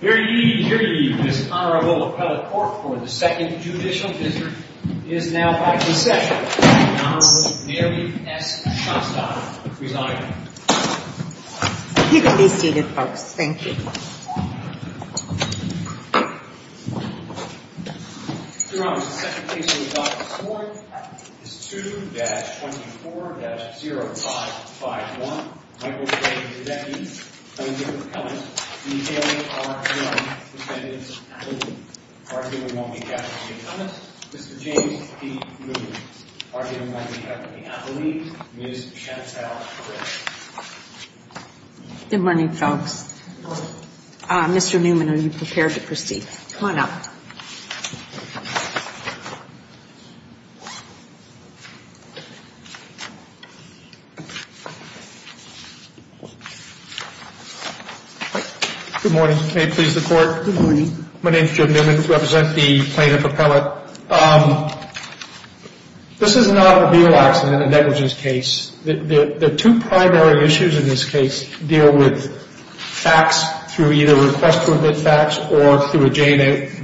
Here ye, here ye, this Honorable Appellate Court for the Second Judicial Dissert is now by procession with the Honorable Mary S. Shostakovich presiding. You can be seated folks, thank you. Your Honor, the second case in the Doctrine of the Court is 2-24-0551, Michael J. Grudecki v. Young, defendant's appellate. Argument won't be kept from the appellate, Mr. James P. Newman. Argument won't be kept from the appellate, Ms. Chantelle Crick. Good morning folks. Mr. Newman, are you prepared to proceed? Come on up. Good morning, may it please the Court. Good morning. My name is Joe Newman, I represent the plaintiff appellate. This is an automobile accident, a negligence case. The two primary issues in this case deal with facts through either request to admit facts or through a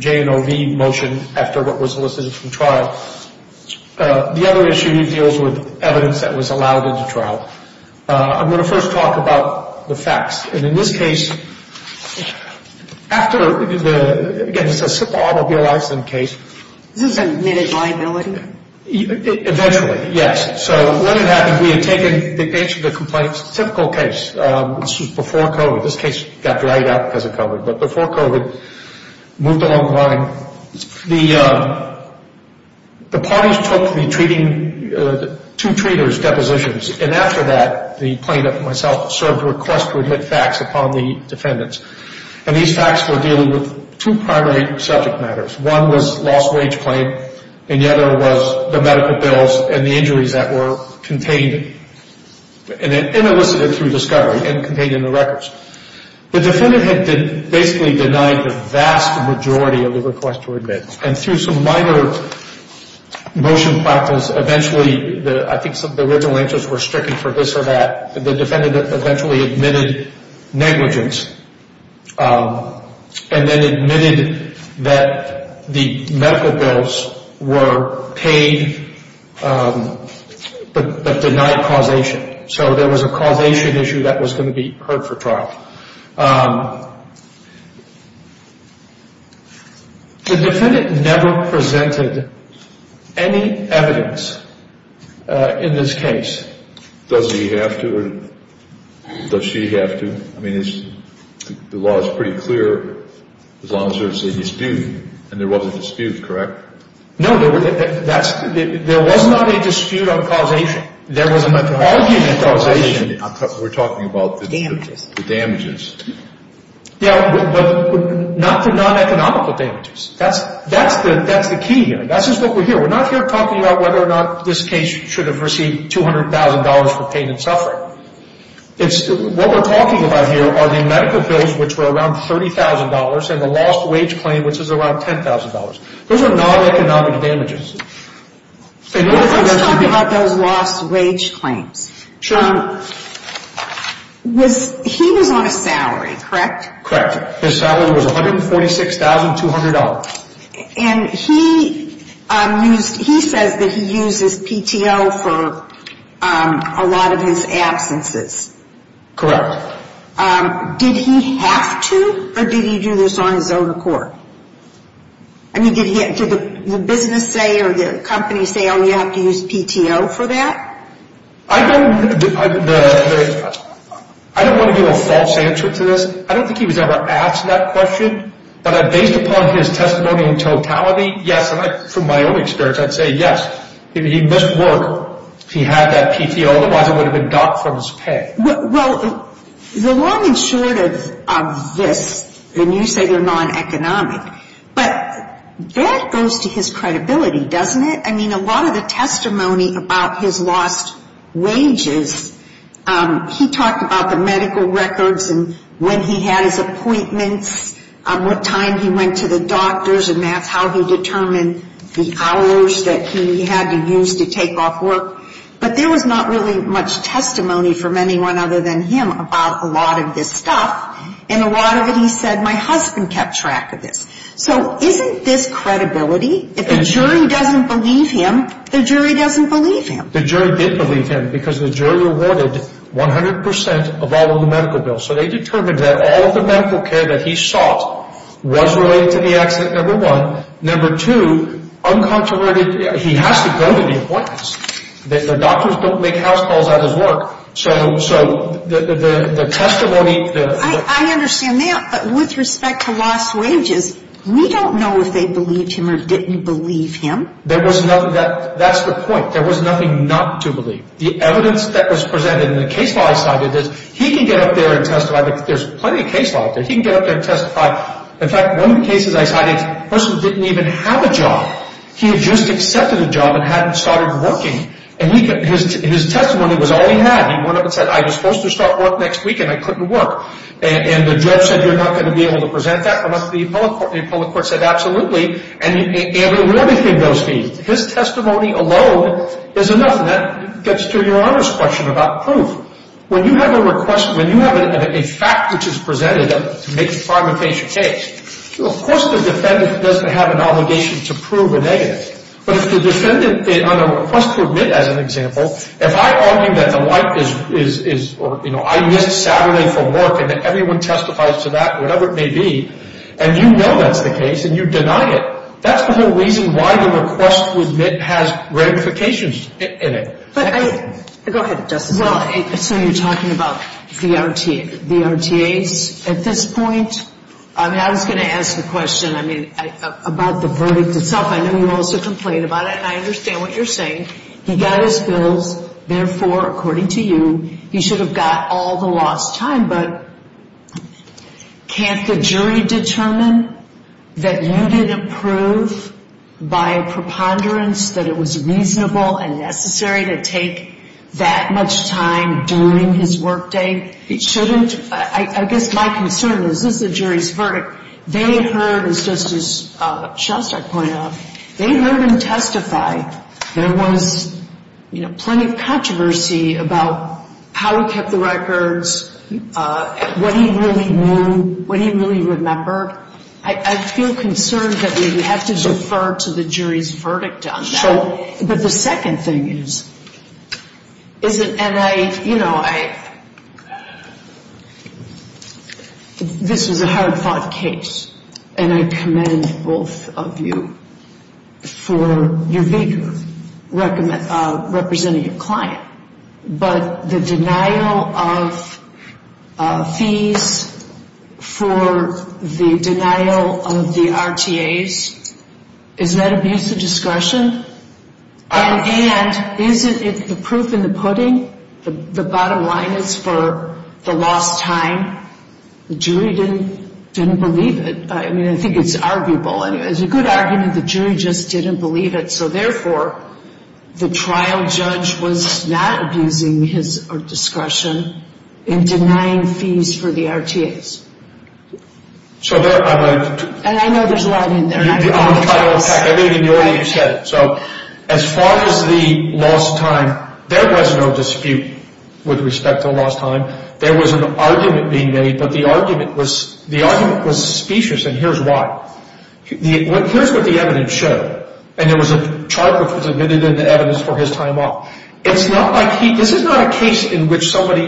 J&OV motion after what was elicited from trial. The other issue deals with evidence that was allowed into trial. I'm going to first talk about the facts. And in this case, after the, again this is a simple automobile accident case. Is this an admitted liability? Eventually, yes. So what had happened, we had taken the age of the complaint. Typical case, this was before COVID. This case got dragged out because of COVID. But before COVID, moved along the line. The parties took the treating, two treaters' depositions. And after that, the plaintiff and myself served a request to admit facts upon the defendants. And these facts were dealing with two primary subject matters. One was lost wage claim, and the other was the medical bills and the injuries that were contained and elicited through discovery and contained in the records. The defendant had basically denied the vast majority of the request to admit. And through some minor motion factors, eventually, I think the original answers were stricken for this or that. The defendant eventually admitted negligence and then admitted that the medical bills were paid but denied causation. So there was a causation issue that was going to be heard for trial. The defendant never presented any evidence in this case. Does he have to or does she have to? I mean, the law is pretty clear as long as there's a dispute. And there was a dispute, correct? No, there was not a dispute on causation. There was an argument on causation. We're talking about the damages. Yeah, but not the non-economical damages. That's the key here. That's just what we're here. We're not here talking about whether or not this case should have received $200,000 for pain and suffering. What we're talking about here are the medical bills, which were around $30,000, and the lost wage claim, which was around $10,000. Those are non-economic damages. Let's talk about those lost wage claims. Sure. He was on a salary, correct? Correct. His salary was $146,200. And he says that he used his PTO for a lot of his absences. Correct. Did he have to or did he do this on his own accord? I mean, did the business say or the company say, oh, you have to use PTO for that? I don't want to give a false answer to this. I don't think he was ever asked that question. But based upon his testimony in totality, yes, and from my own experience, I'd say yes. If he missed work, he had that PTO. Otherwise, it would have been docked from his pay. Well, the long and short of this, and you say they're non-economic, but that goes to his credibility, doesn't it? I mean, a lot of the testimony about his lost wages, he talked about the medical records and when he had his appointments, what time he went to the doctors, and that's how he determined the hours that he had to use to take off work. But there was not really much testimony from anyone other than him about a lot of this stuff, and a lot of it he said my husband kept track of this. So isn't this credibility? If the jury doesn't believe him, the jury doesn't believe him. The jury did believe him because the jury awarded 100 percent of all of the medical bills. So they determined that all of the medical care that he sought was related to the accident, number one. Number two, he has to go to the appointments. The doctors don't make house calls out of his work. So the testimony – I understand that, but with respect to lost wages, we don't know if they believed him or didn't believe him. That's the point. There was nothing not to believe. The evidence that was presented in the case law I cited, he can get up there and testify. There's plenty of case law out there. He can get up there and testify. In fact, one of the cases I cited, the person didn't even have a job. He had just accepted a job and hadn't started working. And his testimony was all he had. He went up and said, I was supposed to start work next week, and I couldn't work. And the judge said, you're not going to be able to present that. And the appellate court said, absolutely. And everything goes to him. His testimony alone is enough. And that gets to Your Honor's question about proof. When you have a request – when you have a fact which is presented to make a fragmentation case, of course the defendant doesn't have an obligation to prove a negative. But if the defendant on a request to admit, as an example, if I argue that the wife is – or, you know, I missed Saturday from work and that everyone testifies to that, whatever it may be, and you know that's the case and you deny it, that's the whole reason why the request to admit has ramifications in it. Go ahead, Justice. Well, so you're talking about the RTAs at this point? I mean, I was going to ask the question, I mean, about the verdict itself. I know you also complained about it, and I understand what you're saying. He got his bills. Therefore, according to you, he should have got all the lost time. But can't the jury determine that you didn't prove by a preponderance that it was reasonable and necessary to take that much time during his workday? He shouldn't – I guess my concern is this is the jury's verdict. They heard, as Justice Shostak pointed out, they heard him testify. There was, you know, plenty of controversy about how he kept the records, what he really knew, what he really remembered. I feel concerned that we would have to defer to the jury's verdict on that. But the second thing is, is it – and I, you know, I – this is a hard-fought case, and I commend both of you for your vigor representing your client. But the denial of fees for the denial of the RTAs, is that abuse of discretion? And isn't it the proof in the pudding? The bottom line is for the lost time. The jury didn't believe it. I mean, I think it's arguable. It's a good argument the jury just didn't believe it. So therefore, the trial judge was not abusing his discretion in denying fees for the RTAs. So there – And I know there's a lot in there. I think the audience said it. So as far as the lost time, there was no dispute with respect to the lost time. There was an argument being made, but the argument was – the argument was suspicious, and here's why. Here's what the evidence showed. And there was a chart that was admitted in the evidence for his time off. It's not like he – this is not a case in which somebody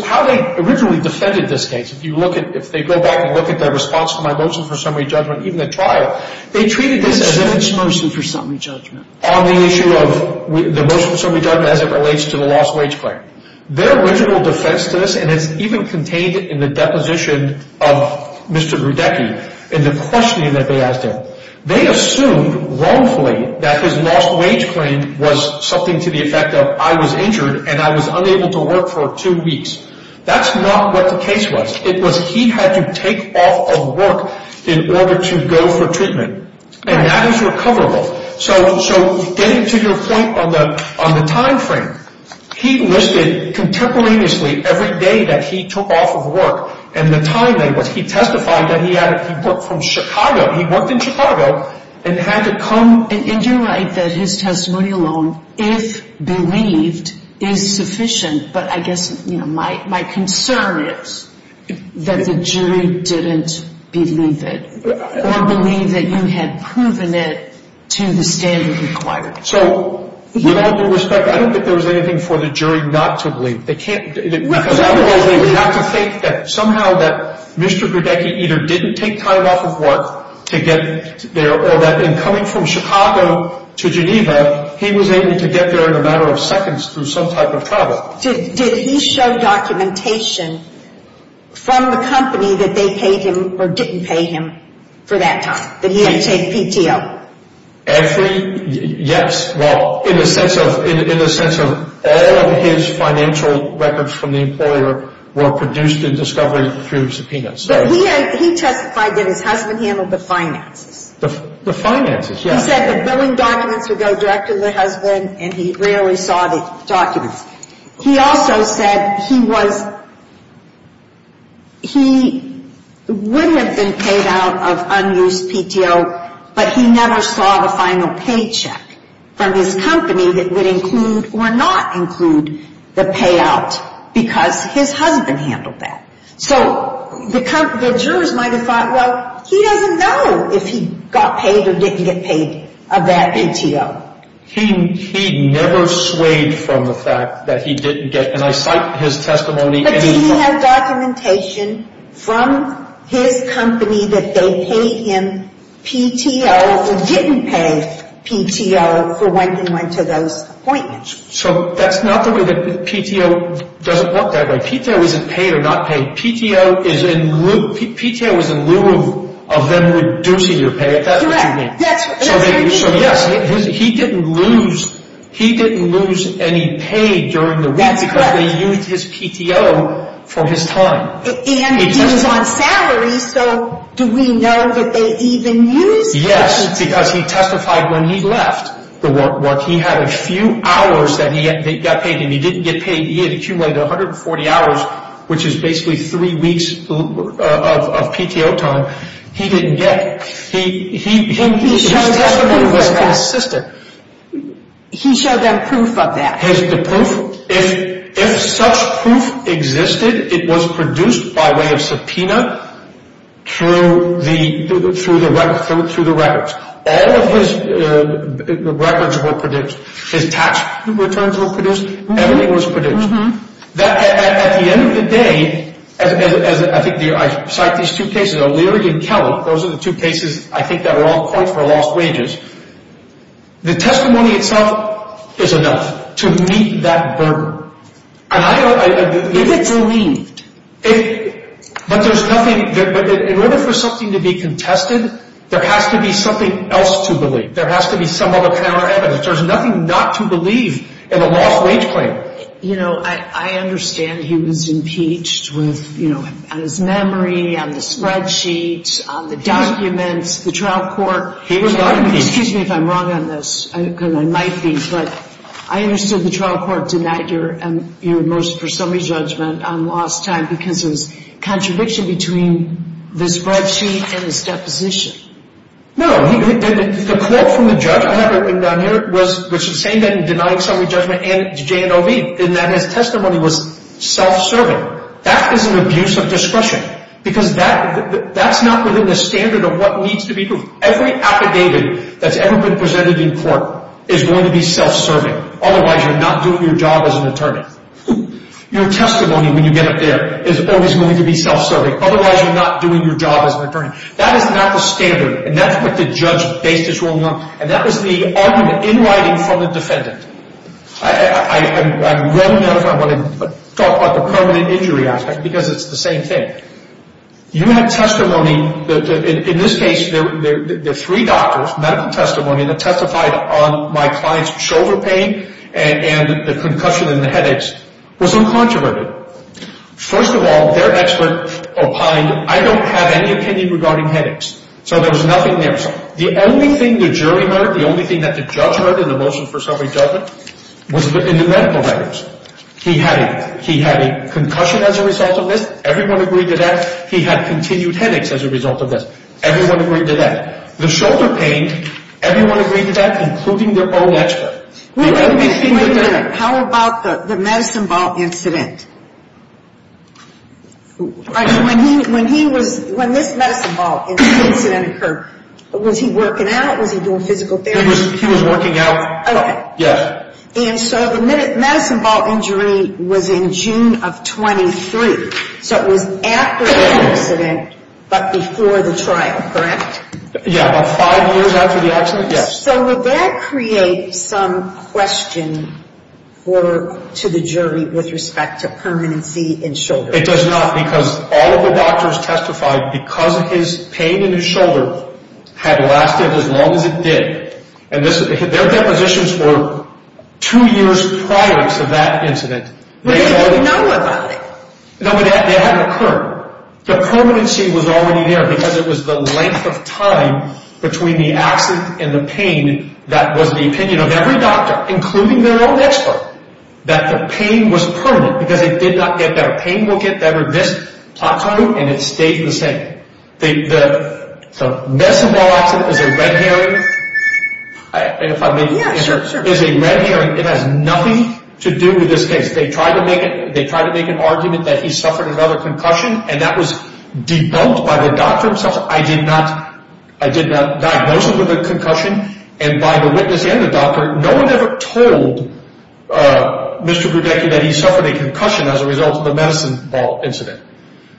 – how they originally defended this case. If you look at – if they go back and look at the response to my motion for summary judgment, even the trial, they treated this as an – This is his motion for summary judgment. On the issue of the motion for summary judgment as it relates to the lost wage claim. Their original defense to this, and it's even contained in the deposition of Mr. Rudecky, in the questioning that they asked him, they assumed wrongfully that his lost wage claim was something to the effect of I was injured and I was unable to work for two weeks. That's not what the case was. It was he had to take off of work in order to go for treatment. And that is recoverable. So getting to your point on the timeframe, he listed contemporaneously every day that he took off of work and the time that he was – he testified that he had – he worked from Chicago. He worked in Chicago and had to come – And you're right that his testimony alone, if believed, is sufficient. But I guess, you know, my concern is that the jury didn't believe it or believe that you had proven it to the standard required. So with all due respect, I don't think there was anything for the jury not to believe. Because otherwise they would have to think that somehow that Mr. Rudecky either didn't take time off of work to get there or that in coming from Chicago to Geneva, he was able to get there in a matter of seconds through some type of travel. Did he show documentation from the company that they paid him or didn't pay him for that time, that he had to take PTO? Every – yes. Well, in the sense of all of his financial records from the employer were produced in discovery through subpoenas. But he testified that his husband handled the finances. The finances, yes. He said the billing documents would go directly to the husband and he rarely saw the documents. He also said he was – he would have been paid out of unused PTO, but he never saw the final paycheck from his company that would include or not include the payout because his husband handled that. So the jurors might have thought, well, he doesn't know if he got paid or didn't get paid of that PTO. He never swayed from the fact that he didn't get – and I cite his testimony. But did he have documentation from his company that they paid him PTO or didn't pay PTO for when he went to those appointments? So that's not the way that PTO – it doesn't work that way. PTO isn't paid or not paid. PTO is in lieu – PTO is in lieu of them reducing your pay. Is that what you mean? Correct. That's what you mean. So, yes, he didn't lose – he didn't lose any pay during the week because they used his PTO for his time. And he was on salary, so do we know that they even used his PTO? Yes, because he testified when he left the work. He had a few hours that he got paid and he didn't get paid. He had accumulated 140 hours, which is basically three weeks of PTO time. He didn't get – his testimony was consistent. He showed them proof of that. The proof? If such proof existed, it was produced by way of subpoena through the records. All of his records were produced. His tax returns were produced. Everything was produced. At the end of the day, as I think – I cite these two cases, O'Leary and Kelley. Those are the two cases I think that are all points for lost wages. The testimony itself is enough to meet that burden. If it's believed. But there's nothing – in order for something to be contested, there has to be something else to believe. There has to be some other kind of evidence. There's nothing not to believe in a lost wage claim. You know, I understand he was impeached on his memory, on the spreadsheet, on the documents, the trial court. He was not impeached. Excuse me if I'm wrong on this, because I might be, but I understood the trial court denied your motion for summary judgment on lost time because it was a contradiction between the spreadsheet and his deposition. No. The quote from the judge I have written down here was the same thing, denying summary judgment and J&OV, in that his testimony was self-serving. That is an abuse of discretion, because that's not within the standard of what needs to be proved. Every affidavit that's ever been presented in court is going to be self-serving. Otherwise, you're not doing your job as an attorney. Your testimony, when you get it there, is always going to be self-serving. Otherwise, you're not doing your job as an attorney. That is not the standard, and that's what the judge based his ruling on, and that was the argument in writing from the defendant. I'm willing to talk about the permanent injury aspect, because it's the same thing. You had testimony, in this case, there were three doctors, medical testimony, that testified on my client's shoulder pain and the concussion and the headaches. It was uncontroverted. First of all, their expert opined, I don't have any opinion regarding headaches. So there was nothing there. The only thing the jury heard, the only thing that the judge heard in the motion for summary judgment, was in the medical records. He had a concussion as a result of this. Everyone agreed to that. He had continued headaches as a result of this. Everyone agreed to that. The shoulder pain, everyone agreed to that, including their own expert. Wait a minute, wait a minute. How about the medicine ball incident? When this medicine ball incident occurred, was he working out? Was he doing physical therapy? He was working out. Yes. And so the medicine ball injury was in June of 23. So it was after the incident, but before the trial, correct? Yeah, about five years after the accident, yes. So would that create some question to the jury with respect to permanency in shoulders? It does not because all of the doctors testified because of his pain in his shoulder had lasted as long as it did. And their depositions were two years prior to that incident. But they didn't know about it. No, but it hadn't occurred. The permanency was already there because it was the length of time between the accident and the pain that was the opinion of every doctor, including their own expert, that the pain was permanent because it did not get better. Pain will get better this plateau and it stays the same. The medicine ball accident is a red herring. Yeah, sure, sure. It is a red herring. It has nothing to do with this case. They tried to make an argument that he suffered another concussion, and that was debunked by the doctor himself. I did not diagnose it with a concussion, and by the witness and the doctor, no one ever told Mr. Brudecki that he suffered a concussion as a result of the medicine ball incident.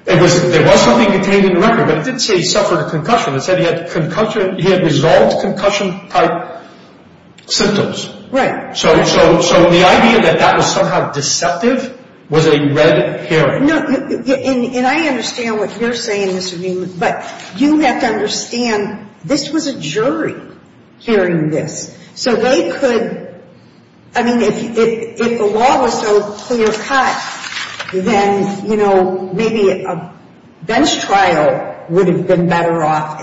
There was something contained in the record, but it didn't say he suffered a concussion. It said he had resolved concussion-type symptoms. Right. So the idea that that was somehow deceptive was a red herring. No, and I understand what you're saying, Mr. Newman, but you have to understand this was a jury hearing this. So they could, I mean, if the law was so clear cut, then, you know, maybe a bench trial would have been better off.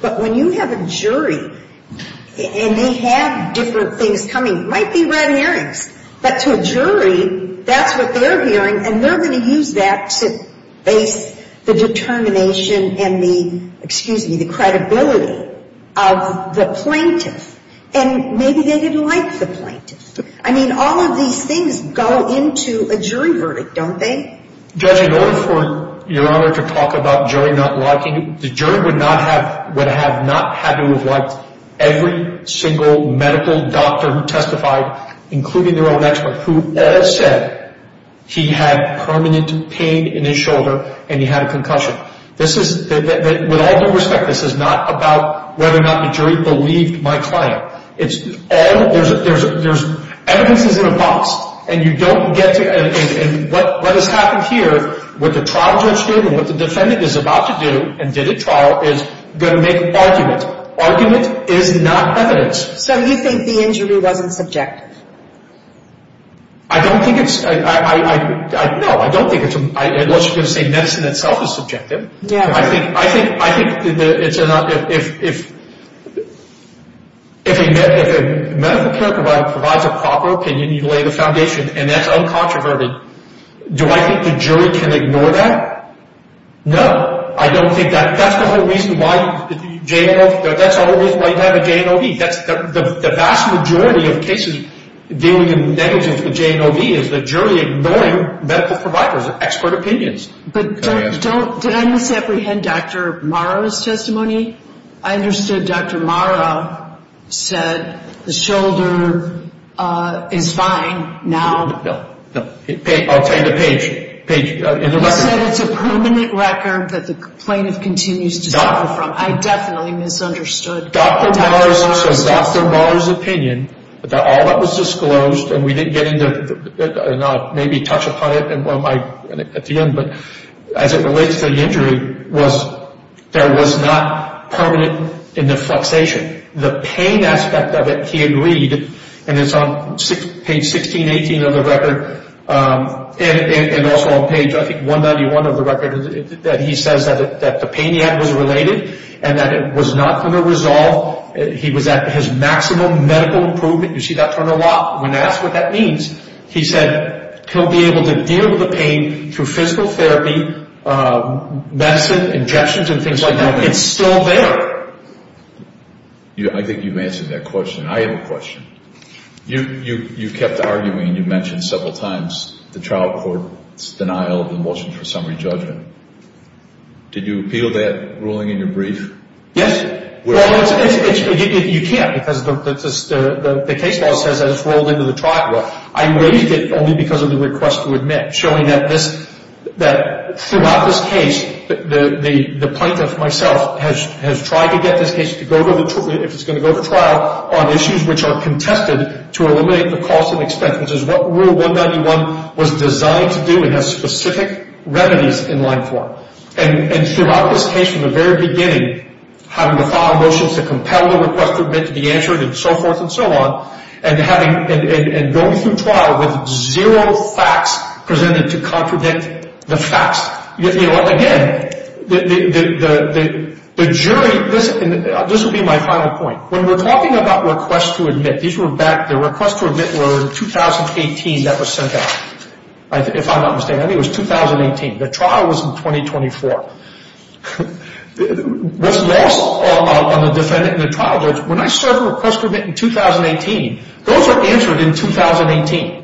But when you have a jury and they have different things coming, it might be red herrings, but to a jury, that's what they're hearing, and they're going to use that to base the determination and the, excuse me, the credibility of the plaintiff. And maybe they didn't like the plaintiff. I mean, all of these things go into a jury verdict, don't they? Judge, in order for Your Honor to talk about jury not liking, the jury would have not had to have liked every single medical doctor who testified, including their own expert, who all said he had permanent pain in his shoulder and he had a concussion. This is, with all due respect, this is not about whether or not the jury believed my client. There's evidences in a box, and you don't get to, and what has happened here, what the trial judge did and what the defendant is about to do and did at trial is going to make an argument. Argument is not evidence. So you think the injury wasn't subjective? I don't think it's, no, I don't think it's, unless you're going to say medicine itself is subjective. I think it's, if a medical care provider provides a proper opinion, you lay the foundation, and that's uncontroverted. Do I think the jury can ignore that? No. I don't think that, that's the whole reason why, that's the whole reason why you have a JNOV. The vast majority of cases dealing in negligence with JNOV is the jury ignoring medical providers' expert opinions. But don't, did I misapprehend Dr. Morrow's testimony? I understood Dr. Morrow said the shoulder is fine now. No, no. I'll tell you the page, page, in the record. He said it's a permanent record that the plaintiff continues to suffer from. I definitely misunderstood Dr. Morrow's testimony. As it relates to the injury was there was not permanent in the flexation. The pain aspect of it he agreed, and it's on page 1618 of the record, and also on page, I think, 191 of the record, that he says that the pain he had was related and that it was not going to resolve. He was at his maximum medical improvement. You see that turn a lot. When asked what that means, he said he'll be able to deal with the pain through physical therapy, medicine, injections, and things like that. It's still there. I think you've answered that question. I have a question. You kept arguing, you mentioned several times the trial court's denial of the motion for summary judgment. Did you appeal that ruling in your brief? Yes. Well, you can't because the case law says that it's rolled into the trial court. I raised it only because of the request to admit, showing that throughout this case, the plaintiff, myself, has tried to get this case, if it's going to go to trial, on issues which are contested to eliminate the costs and expenses. What Rule 191 was designed to do, it has specific remedies in line for. Throughout this case, from the very beginning, having to file motions to compel the request to admit to be answered and so forth and so on, and going through trial with zero facts presented to contradict the facts. Again, the jury, this will be my final point. When we're talking about requests to admit, the requests to admit were in 2018 that were sent out. If I'm not mistaken, I think it was 2018. The trial was in 2024. What's lost on the defendant and the trial judge, when I serve a request to admit in 2018, those are answered in 2018.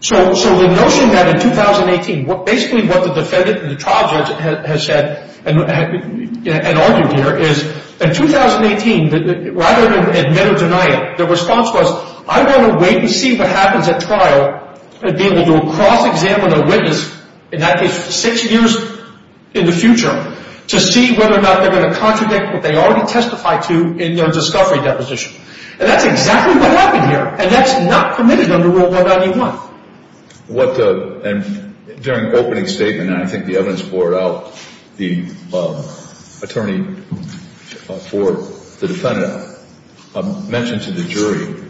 So the notion that in 2018, basically what the defendant and the trial judge has said and argued here is, in 2018, rather than admit or deny it, the response was, I want to wait and see what happens at trial and be able to cross-examine a witness in that case for six years in the future to see whether or not they're going to contradict what they already testified to in their discovery deposition. And that's exactly what happened here. And that's not permitted under Rule 191. And during the opening statement, and I think the evidence poured out, the attorney for the defendant mentioned to the jury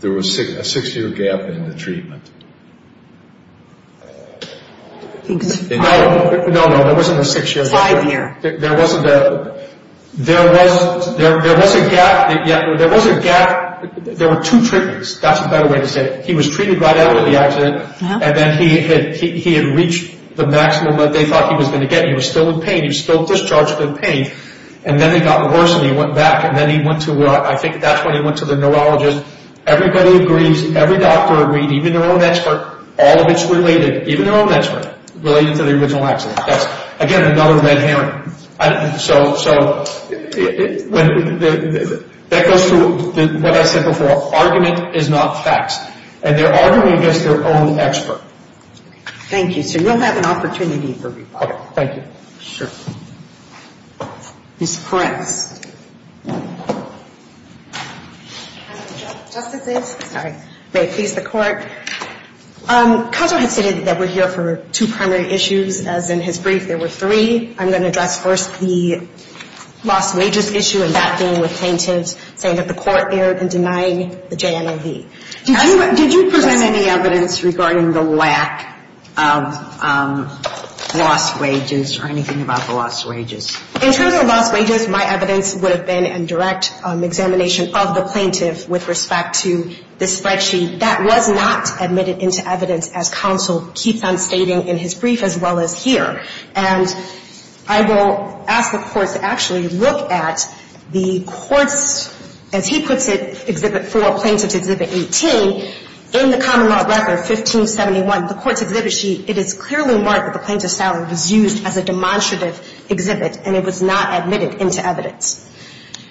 there was a six-year gap in the treatment. No, no, there wasn't a six-year gap. Five years. There was a gap. There was a gap. There were two treatments. That's a better way to say it. He was treated right out of the accident. And then he had reached the maximum that they thought he was going to get. He was still in pain. He was still discharged from pain. And then it got worse and he went back. And then he went to, I think that's when he went to the neurologist. Everybody agrees. Every doctor agreed, even their own expert. All of it's related, even their own expert, related to the original accident. That's, again, another red herring. So that goes through what I said before. Argument is not facts. And they're arguing against their own expert. Thank you. So you'll have an opportunity for rebuttal. Thank you. Sure. Ms. Peretz. Justices. Sorry. May it please the Court. Conso has stated that we're here for two primary issues, as in his brief there were three. I'm going to address first the lost wages issue and that being with plaintiffs, saying that the Court erred in denying the JMOV. Did you present any evidence regarding the lack of lost wages or anything about the lost wages? In terms of lost wages, my evidence would have been in direct examination of the plaintiff with respect to this spreadsheet. That was not admitted into evidence as Conso keeps on stating in his brief as well as here. And I will ask the Court to actually look at the Court's, as he puts it, Exhibit 4, Plaintiff's Exhibit 18. In the Common Law Record 1571, the Court's Exhibit sheet, it is clearly marked that the plaintiff's salary was used as a demonstrative exhibit, and it was not admitted into evidence.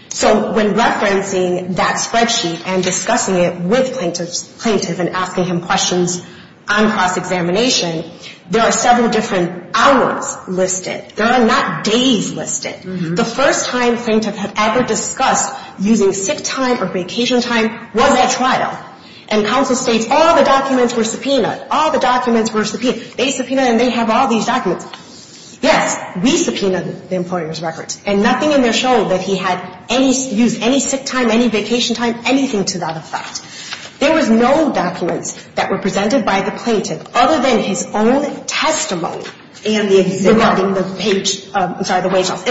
So when referencing that spreadsheet and discussing it with plaintiffs and asking him questions on cross-examination, there are several different hours listed. There are not days listed. The first time plaintiff had ever discussed using sick time or vacation time was at trial. And Conso states all the documents were subpoenaed. All the documents were subpoenaed. They subpoenaed and they have all these documents. Yes, we subpoenaed the employer's records. And nothing in there showed that he had used any sick time, any vacation time, anything to that effect. There was no documents that were presented by the plaintiff other than his own testimony in the exhibit. In the page, I'm sorry,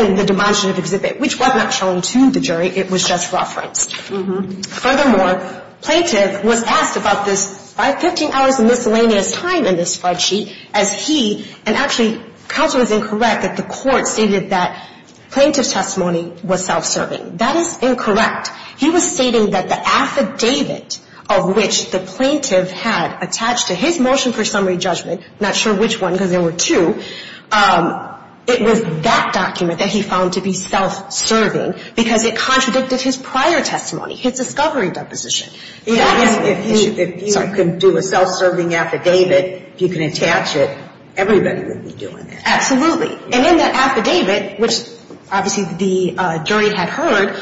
in the demonstrative exhibit, which was not shown to the jury. It was just referenced. Furthermore, plaintiff was asked about this 15 hours of miscellaneous time in this spreadsheet as he, and actually Conso is incorrect that the Court stated that plaintiff's testimony was self-serving. That is incorrect. He was stating that the affidavit of which the plaintiff had attached to his motion for summary judgment, not sure which one because there were two, it was that document that he found to be self-serving because it contradicted his prior testimony, his discovery deposition. If you could do a self-serving affidavit, if you could attach it, everybody would be doing it. Absolutely. And in that affidavit, which obviously the jury had heard,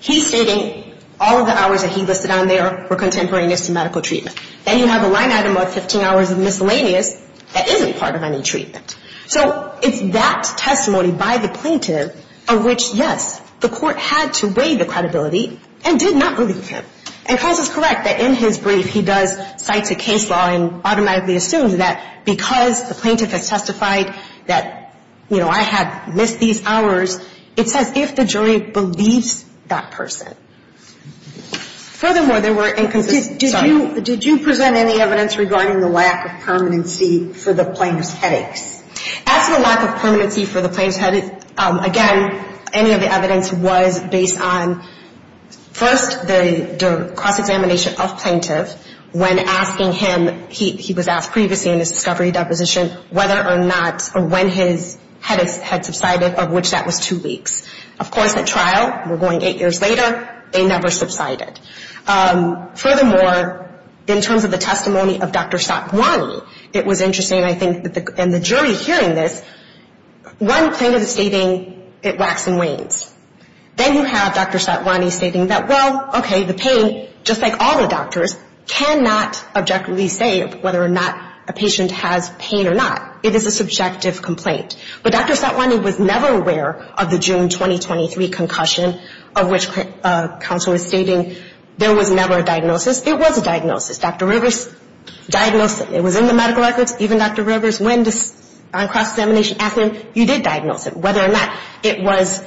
he's stating all of the hours that he listed on there were contemporaneous to medical treatment. Then you have a line item of 15 hours of miscellaneous that isn't part of any treatment. So it's that testimony by the plaintiff of which, yes, the Court had to weigh the credibility and did not believe him. And Conso is correct that in his brief, he does cite a case law and automatically assumes that because the plaintiff has testified that, you know, I had missed these hours, it says if the jury believes that person. Furthermore, there were inconsistencies. Did you present any evidence regarding the lack of permanency for the plaintiff's headaches? As for lack of permanency for the plaintiff's headaches, again, any of the evidence was based on, first, the cross-examination of plaintiff when asking him. He was asked previously in his discovery deposition whether or not or when his headaches had subsided, of which that was two weeks. Of course, at trial, we're going eight years later, they never subsided. Furthermore, in terms of the testimony of Dr. Satwani, it was interesting, I think, and the jury hearing this, one plaintiff is stating it waxes and wanes. Then you have Dr. Satwani stating that, well, okay, the pain, just like all the doctors, cannot objectively say whether or not a patient has pain or not. It is a subjective complaint. But Dr. Satwani was never aware of the June 2023 concussion, of which Conso is stating there was never a diagnosis. It was a diagnosis. Dr. Rivers diagnosed it. It was in the medical records. Even Dr. Rivers, when on cross-examination, asked him, you did diagnose it. Whether or not it was,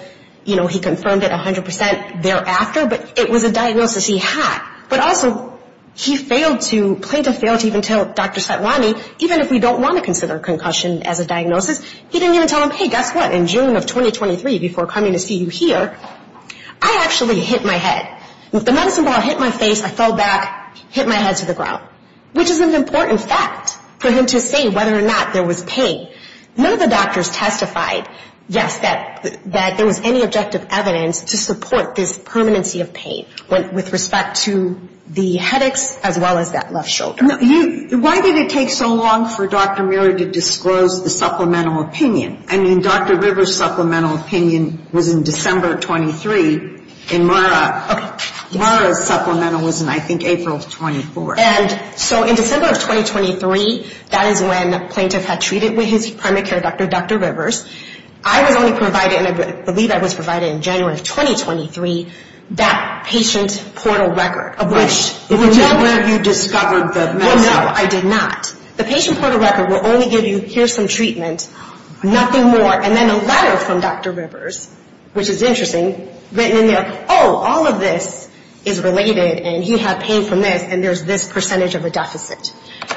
you know, he confirmed it 100% thereafter, but it was a diagnosis he had. But also he failed to, plaintiff failed to even tell Dr. Satwani, even if we don't want to consider concussion as a diagnosis, he didn't even tell him, hey, guess what, in June of 2023, before coming to see you here, I actually hit my head. The medicine ball hit my face, I fell back, hit my head to the ground, which is an important fact for him to say whether or not there was pain. None of the doctors testified, yes, that there was any objective evidence to support this permanency of pain, with respect to the headaches as well as that left shoulder. Why did it take so long for Dr. Mirra to disclose the supplemental opinion? I mean, Dr. Rivers' supplemental opinion was in December of 23, and Mirra's supplemental was in, I think, April of 24. And so in December of 2023, that is when plaintiff had treated with his primary care doctor, Dr. Rivers. I was only provided, and I believe I was provided in January of 2023, that patient portal record. Which is where you discovered the medicine. Well, no, I did not. The patient portal record will only give you, here's some treatment, nothing more, and then a letter from Dr. Rivers, which is interesting, written in there, oh, all of this is related, and he had pain from this, and there's this percentage of a deficit.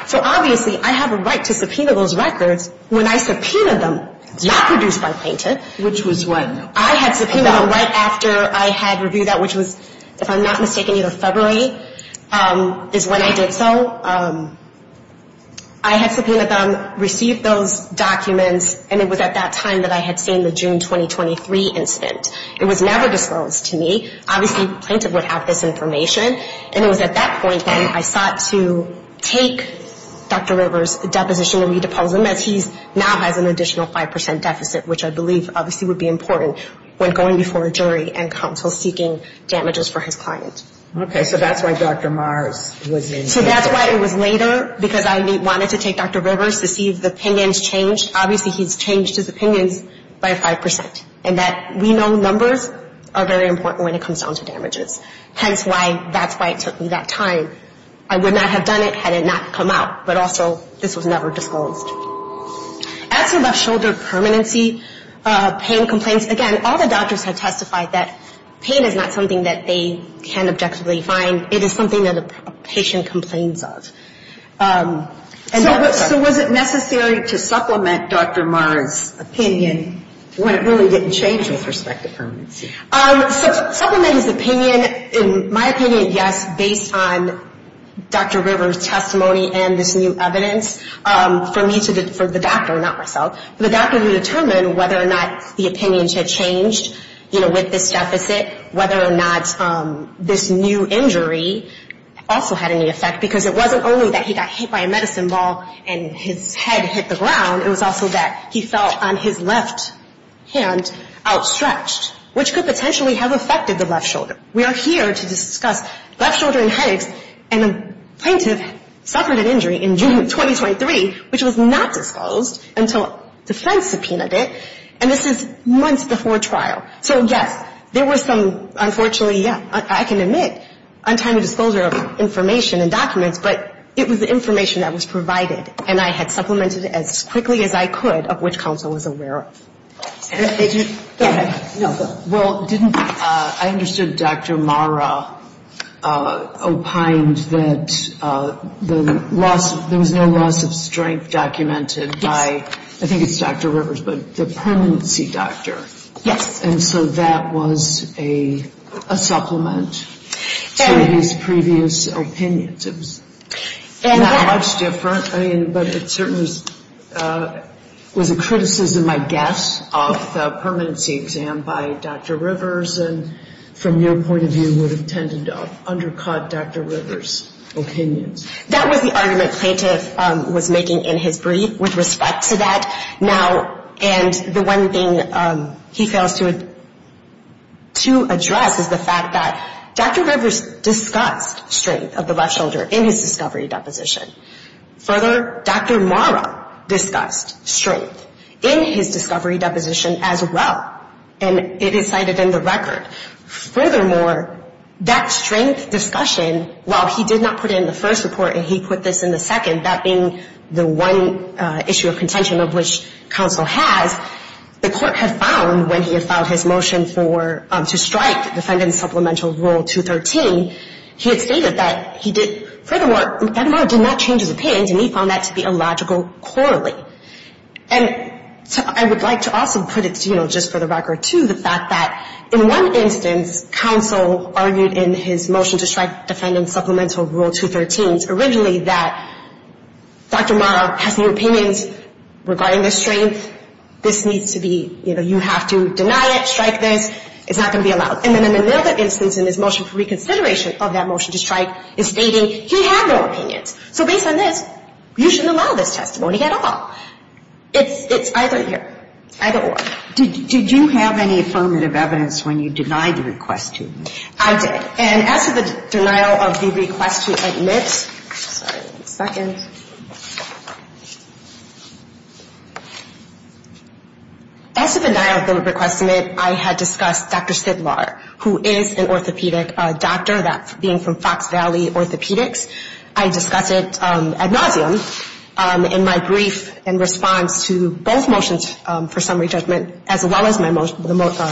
So obviously I have a right to subpoena those records when I subpoenaed them, not produced by plaintiff. Which was when? I had subpoenaed them right after I had reviewed that, which was, if I'm not mistaken, either February is when I did so. I had subpoenaed them, received those documents, and it was at that time that I had seen the June 2023 incident. It was never disclosed to me. Obviously plaintiff would have this information. And it was at that point when I sought to take Dr. Rivers' deposition and re-depose him, as he now has an additional 5% deficit, which I believe obviously would be important when going before a jury and counsel seeking damages for his client. Okay. So that's why Dr. Mars was in there. So that's why it was later, because I wanted to take Dr. Rivers to see if the opinions changed. Obviously he's changed his opinions by 5%. And that we know numbers are very important when it comes down to damages. Hence why that's why it took me that time. I would not have done it had it not come out. But also this was never disclosed. As to left shoulder permanency pain complaints, again, all the doctors have testified that pain is not something that they can objectively find. It is something that a patient complains of. So was it necessary to supplement Dr. Mars' opinion when it really didn't change with respect to permanency? Supplement his opinion, in my opinion, yes, based on Dr. Rivers' testimony and this new evidence. For me to, for the doctor, not myself. For the doctor to determine whether or not the opinions had changed, you know, with this deficit. Whether or not this new injury also had any effect. Because it wasn't only that he got hit by a medicine ball and his head hit the ground. It was also that he felt on his left hand outstretched. Which could potentially have affected the left shoulder. We are here to discuss left shoulder and headaches. And the plaintiff suffered an injury in June of 2023, which was not disclosed until defense subpoenaed it. And this is months before trial. So, yes, there was some, unfortunately, yeah, I can admit, untimely disclosure of information and documents. But it was the information that was provided. And I had supplemented it as quickly as I could, of which counsel was aware of. Go ahead. Well, didn't, I understood Dr. Mara opined that the loss, there was no loss of strength documented by, I think it's Dr. Rivers, but the permanency doctor. Yes. And so that was a supplement to his previous opinions. It was not much different, but it certainly was a criticism, I guess, of the permanency exam by Dr. Rivers. And from your point of view, would have tended to undercut Dr. Rivers' opinions. That was the argument plaintiff was making in his brief with respect to that. Now, and the one thing he fails to address is the fact that Dr. Rivers discussed strength of the left shoulder in his discovery deposition. Further, Dr. Mara discussed strength in his discovery deposition as well, and it is cited in the record. Furthermore, that strength discussion, while he did not put it in the first report and he put this in the second, that being the one issue of contention of which counsel has, the court had found when he had filed his motion for, to strike defendant's supplemental rule 213, he had stated that he did, furthermore, that Mara did not change his opinions, and he found that to be illogical, poorly. And I would like to also put it, you know, just for the record, too, the fact that in one instance, counsel argued in his motion to strike defendant's supplemental rule 213, originally, that Dr. Mara has new opinions regarding the strength. This needs to be, you know, you have to deny it, strike this. It's not going to be allowed. And then in another instance in his motion for reconsideration of that motion to strike is stating he had no opinions. So based on this, you shouldn't allow this testimony at all. It's either here, either or. Did you have any affirmative evidence when you denied the request to admit? I did. And as to the denial of the request to admit, sorry, one second. As to the denial of the request to admit, I had discussed Dr. Sidlar, who is an orthopedic doctor, that being from Fox Valley Orthopedics. I discussed it ad nauseum in my brief in response to both motions for summary judgment, as well as my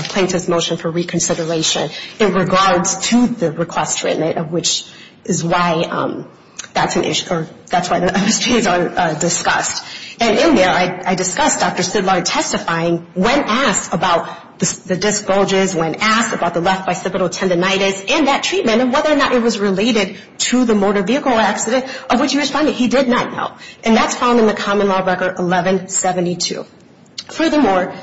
plaintiff's motion for reconsideration in regards to the request to admit, which is why that's an issue, or that's why those two are discussed. And in there, I discussed Dr. Sidlar testifying when asked about the disc bulges, when asked about the left bicipital tendinitis, and that treatment, and whether or not it was related to the motor vehicle accident of which he was finding he did not know. And that's found in the common law record 1172. Furthermore,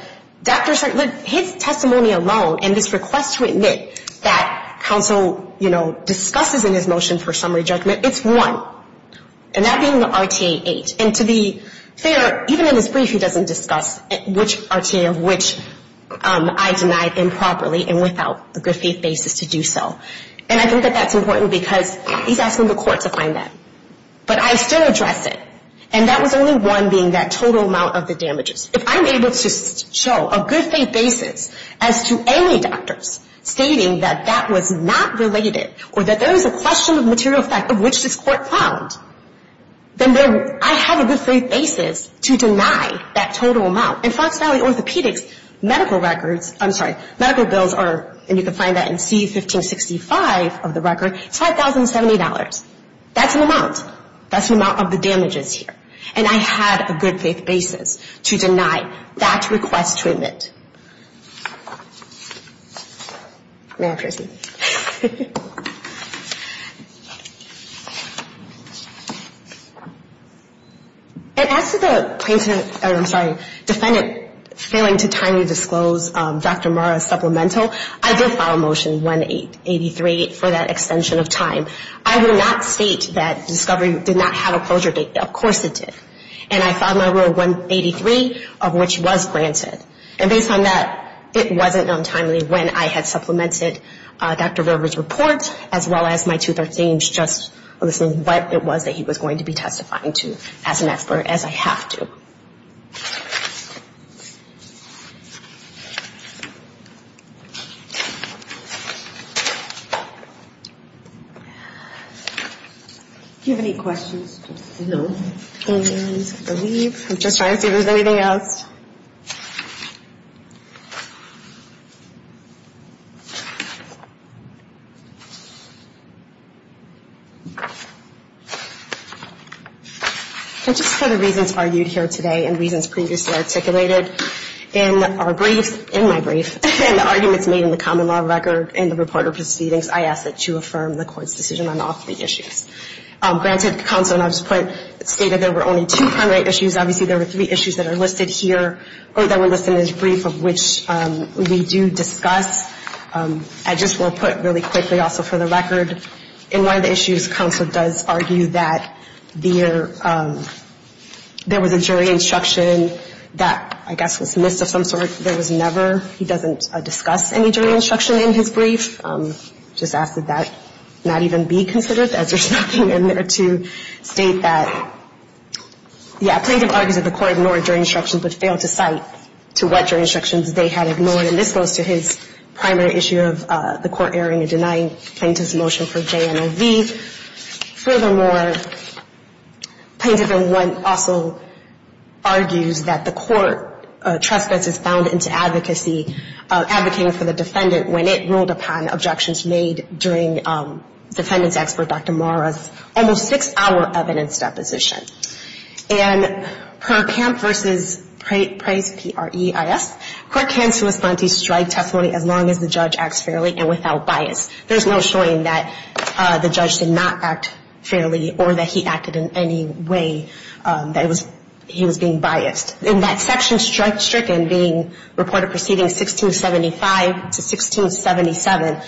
Dr. Sidlar, his testimony alone and his request to admit that counsel, you know, discusses in his motion for summary judgment, it's one. And that being the RTA 8. And to be fair, even in his brief, he doesn't discuss which RTA of which I denied improperly and without a good faith basis to do so. And I think that that's important because he's asking the court to find that. But I still address it. And that was only one being that total amount of the damages. If I'm able to show a good faith basis as to any doctors stating that that was not related or that there is a question of material fact of which this court found, then I have a good faith basis to deny that total amount. In Fox Valley Orthopedics, medical records, I'm sorry, medical bills are, and you can find that in C1565 of the record, it's $5,070. That's an amount. That's the amount of the damages here. And I had a good faith basis to deny that request to admit. May I have your seat? And as to the plaintiff, I'm sorry, defendant failing to timely disclose Dr. Murrah's supplemental, I did file Motion 183 for that extension of time. I will not state that discovery did not have a closure date. Of course it did. And I filed my rule 183 of which was granted. And based on that, it wasn't known timely when I had supplemented Dr. Murrah's report as well as my 213, just what it was that he was going to be testifying to as an expert, as I have to. Do you have any questions? No. And I believe, I'm just trying to see if there's anything else. And just for the reasons argued here today and reasons previously articulated in our briefs, in my brief, in the arguments made in the common law record and the reporter proceedings, I ask that you affirm the court's decision on all three issues. Granted, counsel, and I'll just put, stated there were only two primary issues. Obviously there were three issues that are listed here or that were listed in his brief of which we do discuss. I just will put really quickly also for the record, in one of the issues, counsel does argue that there was a jury instruction that I guess was missed of some sort. There was never, he doesn't discuss any jury instruction in his brief. Just ask that that not even be considered as there's nothing in there to state that, yeah, plaintiff argues that the court ignored jury instructions but failed to cite to what jury instructions they had ignored. And this goes to his primary issue of the court erring in denying plaintiff's motion for JMOV. Furthermore, plaintiff in one also argues that the court trespasses found into advocacy, advocating for the defendant when it ruled upon objections made during defendant's expert, Dr. Marra's almost six-hour evidence deposition. And per Camp v. Price, P-R-E-I-S, court can sue a plaintiff's strike testimony as long as the judge acts fairly and without bias. There's no showing that the judge did not act fairly or that he acted in any way that he was being biased. In that section, strike stricken, being reported proceeding 1675 to 1677,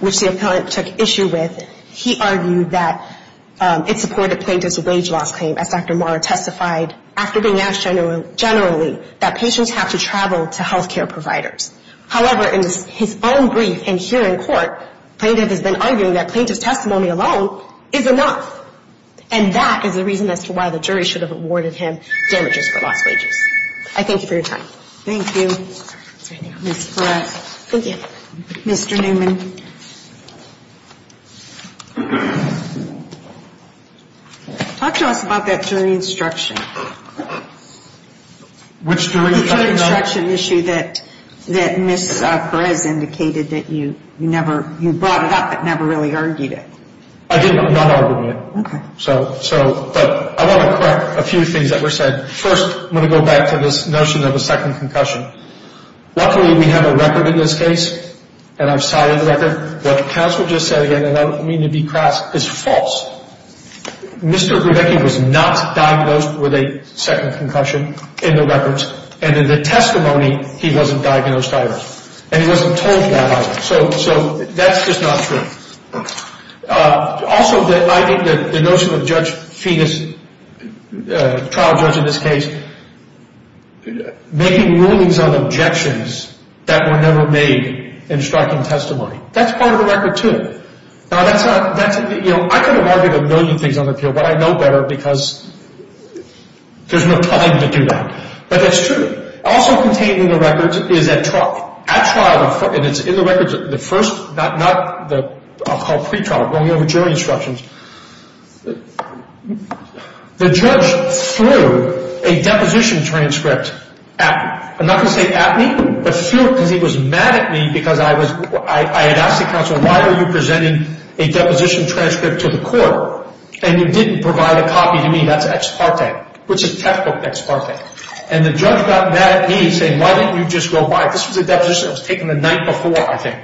which the appellant took issue with, he argued that it supported plaintiff's wage loss claim as Dr. Marra testified after being asked generally that patients have to travel to health care providers. However, in his own brief and here in court, plaintiff has been arguing that plaintiff's testimony alone is enough. And that is the reason as to why the jury should have awarded him damages for lost wages. I thank you for your time. Thank you, Ms. Perez. Thank you. Mr. Newman. Talk to us about that jury instruction. Which jury instruction? The jury instruction issue that Ms. Perez indicated that you never, you brought it up but never really argued it. I did not argue it. Okay. But I want to correct a few things that were said. First, I'm going to go back to this notion of a second concussion. Luckily, we have a record in this case, and I've cited the record. What counsel just said again, and I don't mean to be crass, is false. Mr. Grebecki was not diagnosed with a second concussion in the records. And in the testimony, he wasn't diagnosed either. And he wasn't told that either. So that's just not true. Also, I think that the notion of judge, fetus, trial judge in this case, making rulings on objections that were never made in striking testimony. That's part of the record, too. Now, I could have argued a million things on the appeal, but I know better because there's no time to do that. But that's true. Also contained in the records is at trial, and it's in the records, the first, not the, I'll call it pre-trial, going over jury instructions. The judge threw a deposition transcript at me. I'm not going to say at me, but threw it because he was mad at me because I had asked the counsel, why are you presenting a deposition transcript to the court? And you didn't provide a copy to me. That's ex parte, which is textbook ex parte. And the judge got mad at me, saying, why didn't you just go by it? This was a deposition that was taken the night before, I think,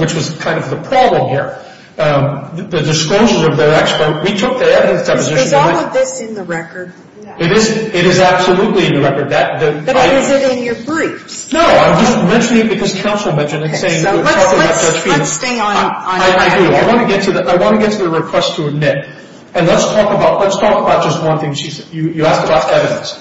which was kind of the problem here. The disclosures of the expert, we took the evidence deposition. Is all of this in the record? It is absolutely in the record. But is it in your briefs? No, I'm just mentioning it because counsel mentioned it. So let's stay on that. I agree. I want to get to the request to admit. And let's talk about just one thing. You asked about evidence.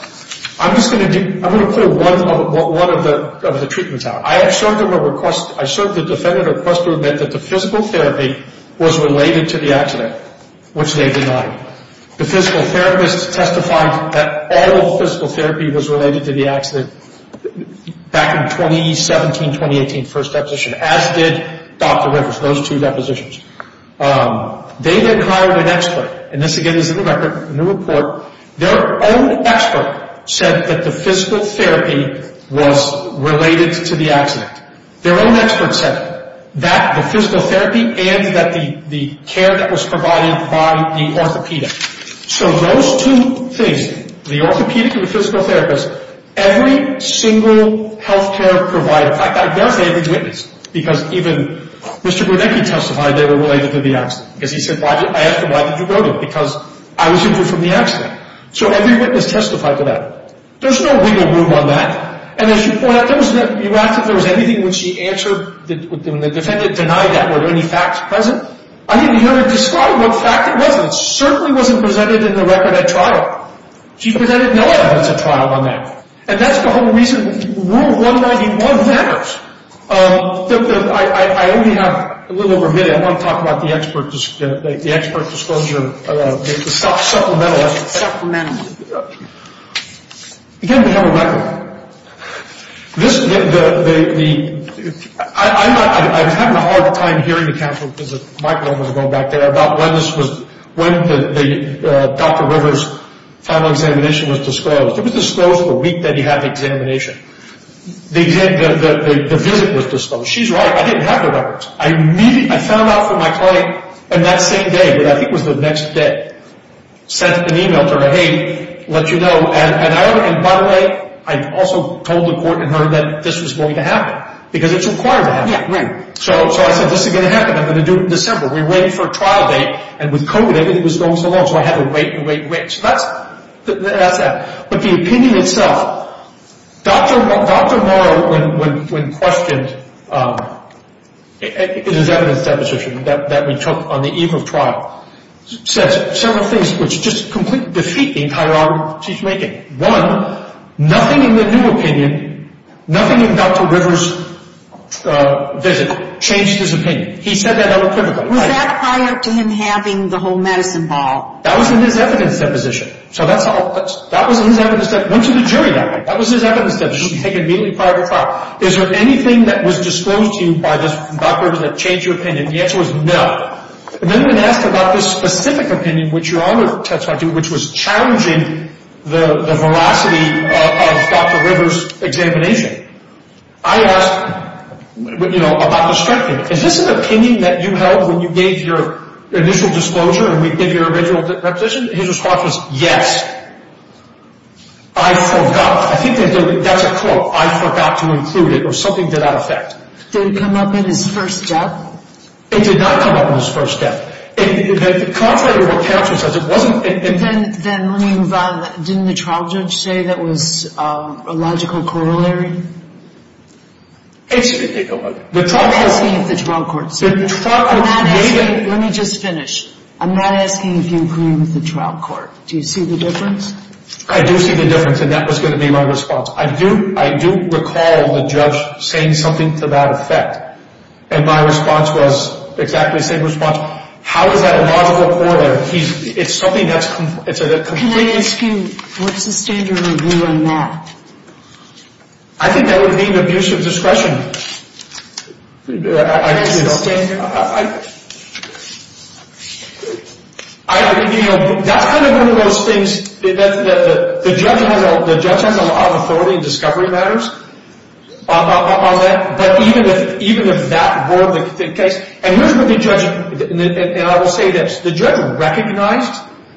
I'm just going to put one of the treatments out. I served the defendant a request to admit that the physical therapy was related to the accident, which they denied. The physical therapist testified that all physical therapy was related to the accident back in 2017, 2018, first deposition, as did Dr. Rivers, those two depositions. They then hired an expert. And this, again, is in the record, in the report. Their own expert said that the physical therapy was related to the accident. Their own expert said that the physical therapy and that the care that was provided by the orthopedic. So those two things, the orthopedic and the physical therapist, every single health care provider. Because even Mr. Burdecki testified they were related to the accident. Because he said, I asked him, why did you vote him? Because I was injured from the accident. So every witness testified to that. There's no legal room on that. And as you point out, you asked if there was anything when she answered, when the defendant denied that, were there any facts present? I didn't hear her describe what fact it was. It certainly wasn't presented in the record at trial. She presented no evidence at trial on that. And that's the whole reason Rule 191 matters. I only have a little over a minute. I want to talk about the expert disclosure, the supplemental. Supplemental. Again, we have a record. I was having a hard time hearing the counsel because the microphone was going back there, about when this was, when Dr. Rivers' final examination was disclosed. It was disclosed the week that he had the examination. The visit was disclosed. She's right. I didn't have the records. I found out from my client on that same day, but I think it was the next day, sent an e-mail to her, hey, let you know. And by the way, I also told the court and her that this was going to happen because it's required to happen. So I said, this is going to happen. I'm going to do it in December. We're waiting for a trial date. And with COVID, everything was going so long. So I had to wait and wait and wait. But the opinion itself, Dr. Morrow, when questioned in his evidence deposition that we took on the eve of trial, said several things which just completely defeat the entire argument she's making. One, nothing in the new opinion, nothing in Dr. Rivers' visit changed his opinion. He said that unequivocally. Was that prior to him having the whole medicine ball? That was in his evidence deposition. So that was his evidence that went to the jury that night. That was his evidence that was taken immediately prior to trial. Is there anything that was disclosed to you by Dr. Rivers that changed your opinion? And the answer was no. And then when asked about this specific opinion, which you're on the testifying to, which was challenging the veracity of Dr. Rivers' examination, I asked about the structure. Is this an opinion that you held when you gave your initial disclosure in your original deposition? His response was yes. I forgot. I think that's a quote. I forgot to include it or something to that effect. Did it come up in his first death? It did not come up in his first death. Contrary to what counselor says, it wasn't. Then let me move on. Didn't the trial judge say that was a logical corollary? Excuse me. I'm asking if the trial court said that. Let me just finish. I'm not asking if you agree with the trial court. Do you see the difference? I do see the difference, and that was going to be my response. I do recall the judge saying something to that effect. And my response was exactly the same response. How is that a logical corollary? It's something that's completely different. Can I ask you, what's the standard review on that? I think that would be an abuse of discretion. That's kind of one of those things that the judge has a lot of authority in discovery matters. But even if that were the case, and here's what the judge, and I will say this, the judge recognized,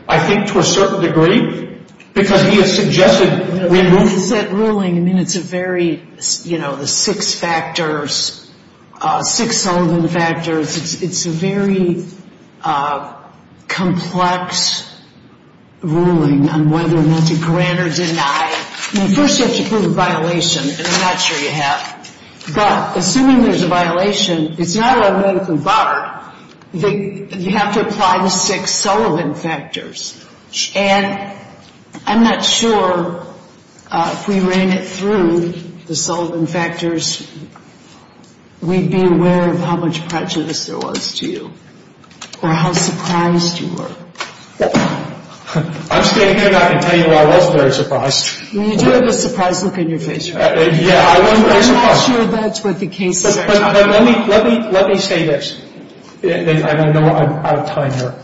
I think to a certain degree, because he has suggested, you know, we have rules. What is that ruling? I mean, it's a very, you know, the six factors, six Sullivan factors. It's a very complex ruling on whether or not to grant or deny. I mean, first you have to prove a violation, and I'm not sure you have. But assuming there's a violation, it's not automatically barred. You have to apply the six Sullivan factors. And I'm not sure if we ran it through the Sullivan factors, we'd be aware of how much prejudice there was to you or how surprised you were. I'm standing here and I can tell you I was very surprised. You do have a surprised look on your face. Yeah, I was very surprised. I'm not sure that's what the case is. But let me say this, and I know I'm out of time here.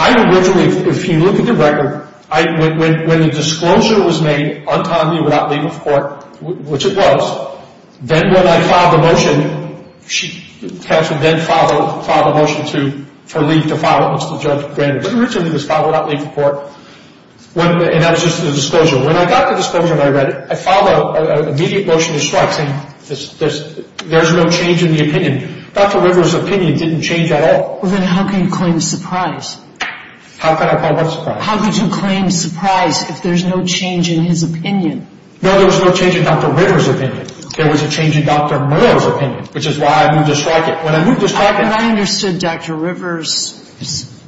I originally, if you look at the record, when the disclosure was made, untimely without leave of court, which it was, then when I filed the motion, she actually then filed a motion for leave to file it once the judge granted it. But originally it was filed without leave of court, and that was just the disclosure. When I got the disclosure and I read it, I filed an immediate motion to strike, saying there's no change in the opinion. Dr. Rivers' opinion didn't change at all. Well, then how can you claim surprise? How can I claim what surprise? How could you claim surprise if there's no change in his opinion? No, there was no change in Dr. Rivers' opinion. There was a change in Dr. Murrow's opinion, which is why I moved to strike it. When I moved to strike it – I understood Dr. Rivers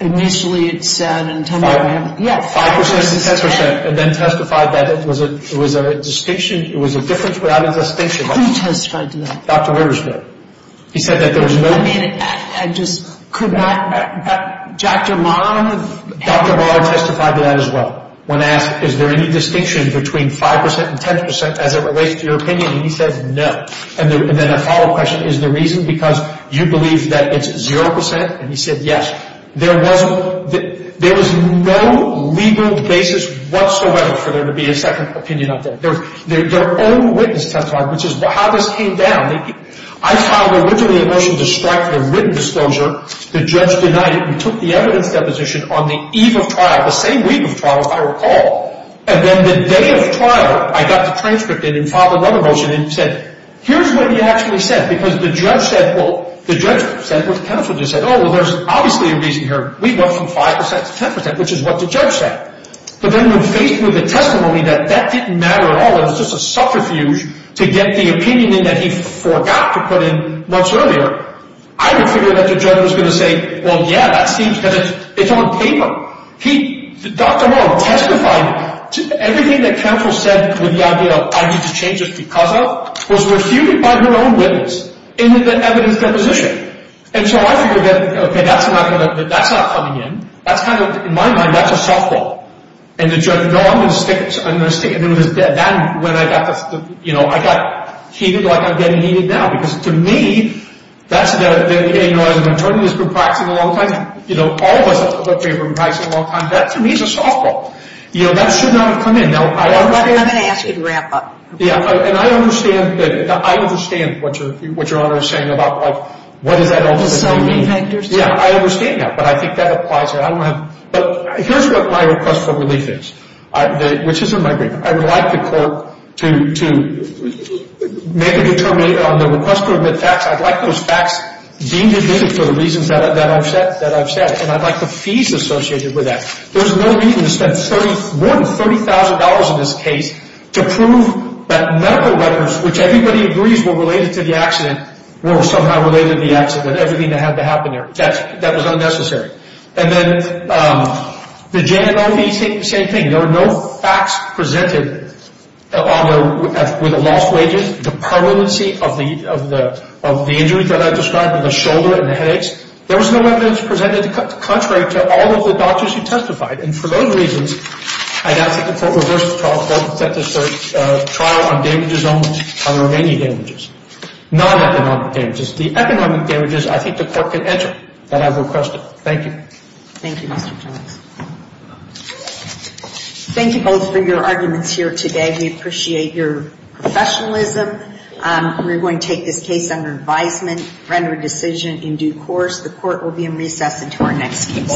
initially had said – Five percent? Yes. Five percent and then testified that it was a distinction, it was a difference without a distinction. Who testified to that? Dr. Rivers did. He said that there was no – I mean, I just could not – Dr. Murrow? Dr. Murrow testified to that as well. When asked is there any distinction between five percent and ten percent as it relates to your opinion, he said no. And then a follow-up question, is the reason because you believe that it's zero percent? And he said yes. There was no legal basis whatsoever for there to be a second opinion out there. Their own witness testified, which is how this came down. I filed originally a motion to strike the written disclosure. The judge denied it and took the evidence deposition on the eve of trial, the same week of trial, if I recall. And then the day of trial, I got the transcript in and filed another motion and said, here's what he actually said because the judge said – well, the judge said what the counsel just said. Oh, well, there's obviously a reason here. We went from five percent to ten percent, which is what the judge said. But then we faced with the testimony that that didn't matter at all. It was just a subterfuge to get the opinion in that he forgot to put in months earlier. I didn't figure that the judge was going to say, well, yeah, that seems – because it's on paper. Dr. Long testified. Everything that counsel said with the idea of I need to change this because of was refuted by her own witness in the evidence deposition. And so I figured that, okay, that's not coming in. That's kind of – in my mind, that's a softball. And the judge, no, I'm going to stick it. Then when I got the – you know, I got heated like I'm getting heated now because to me, that's the – you know, as an attorney who's been practicing a long time, you know, all of us have been practicing a long time. That, to me, is a softball. You know, that should not have come in. Now, I understand – I'm going to ask you to wrap up. Yeah. And I understand that – I understand what Your Honor is saying about, like, what does that ultimately mean. So many factors. Yeah, I understand that. But I think that applies here. I don't have – but here's what my request for relief is, which is in my brief. I would like the court to make a determination on the request to admit facts. I'd like those facts deemed admitted for the reasons that I've said. And I'd like the fees associated with that. There's no reason to spend more than $30,000 in this case to prove that medical records, which everybody agrees were related to the accident, were somehow related to the accident, everything that had to happen there. That was unnecessary. And then the J&OB, same thing. There were no facts presented with the lost wages, the permanency of the injuries that I described, the shoulder and the headaches. There was no evidence presented contrary to all of the doctors who testified. And for those reasons, I'd ask that the court reverse the trial. The court set this trial on damages only, on remaining damages, non-economic damages. The economic damages, I think the court can enter. That I've requested. Thank you. Thank you, Mr. Jones. Thank you both for your arguments here today. We appreciate your professionalism. We're going to take this case under advisement, render a decision in due course. The court will be in recess until our next case.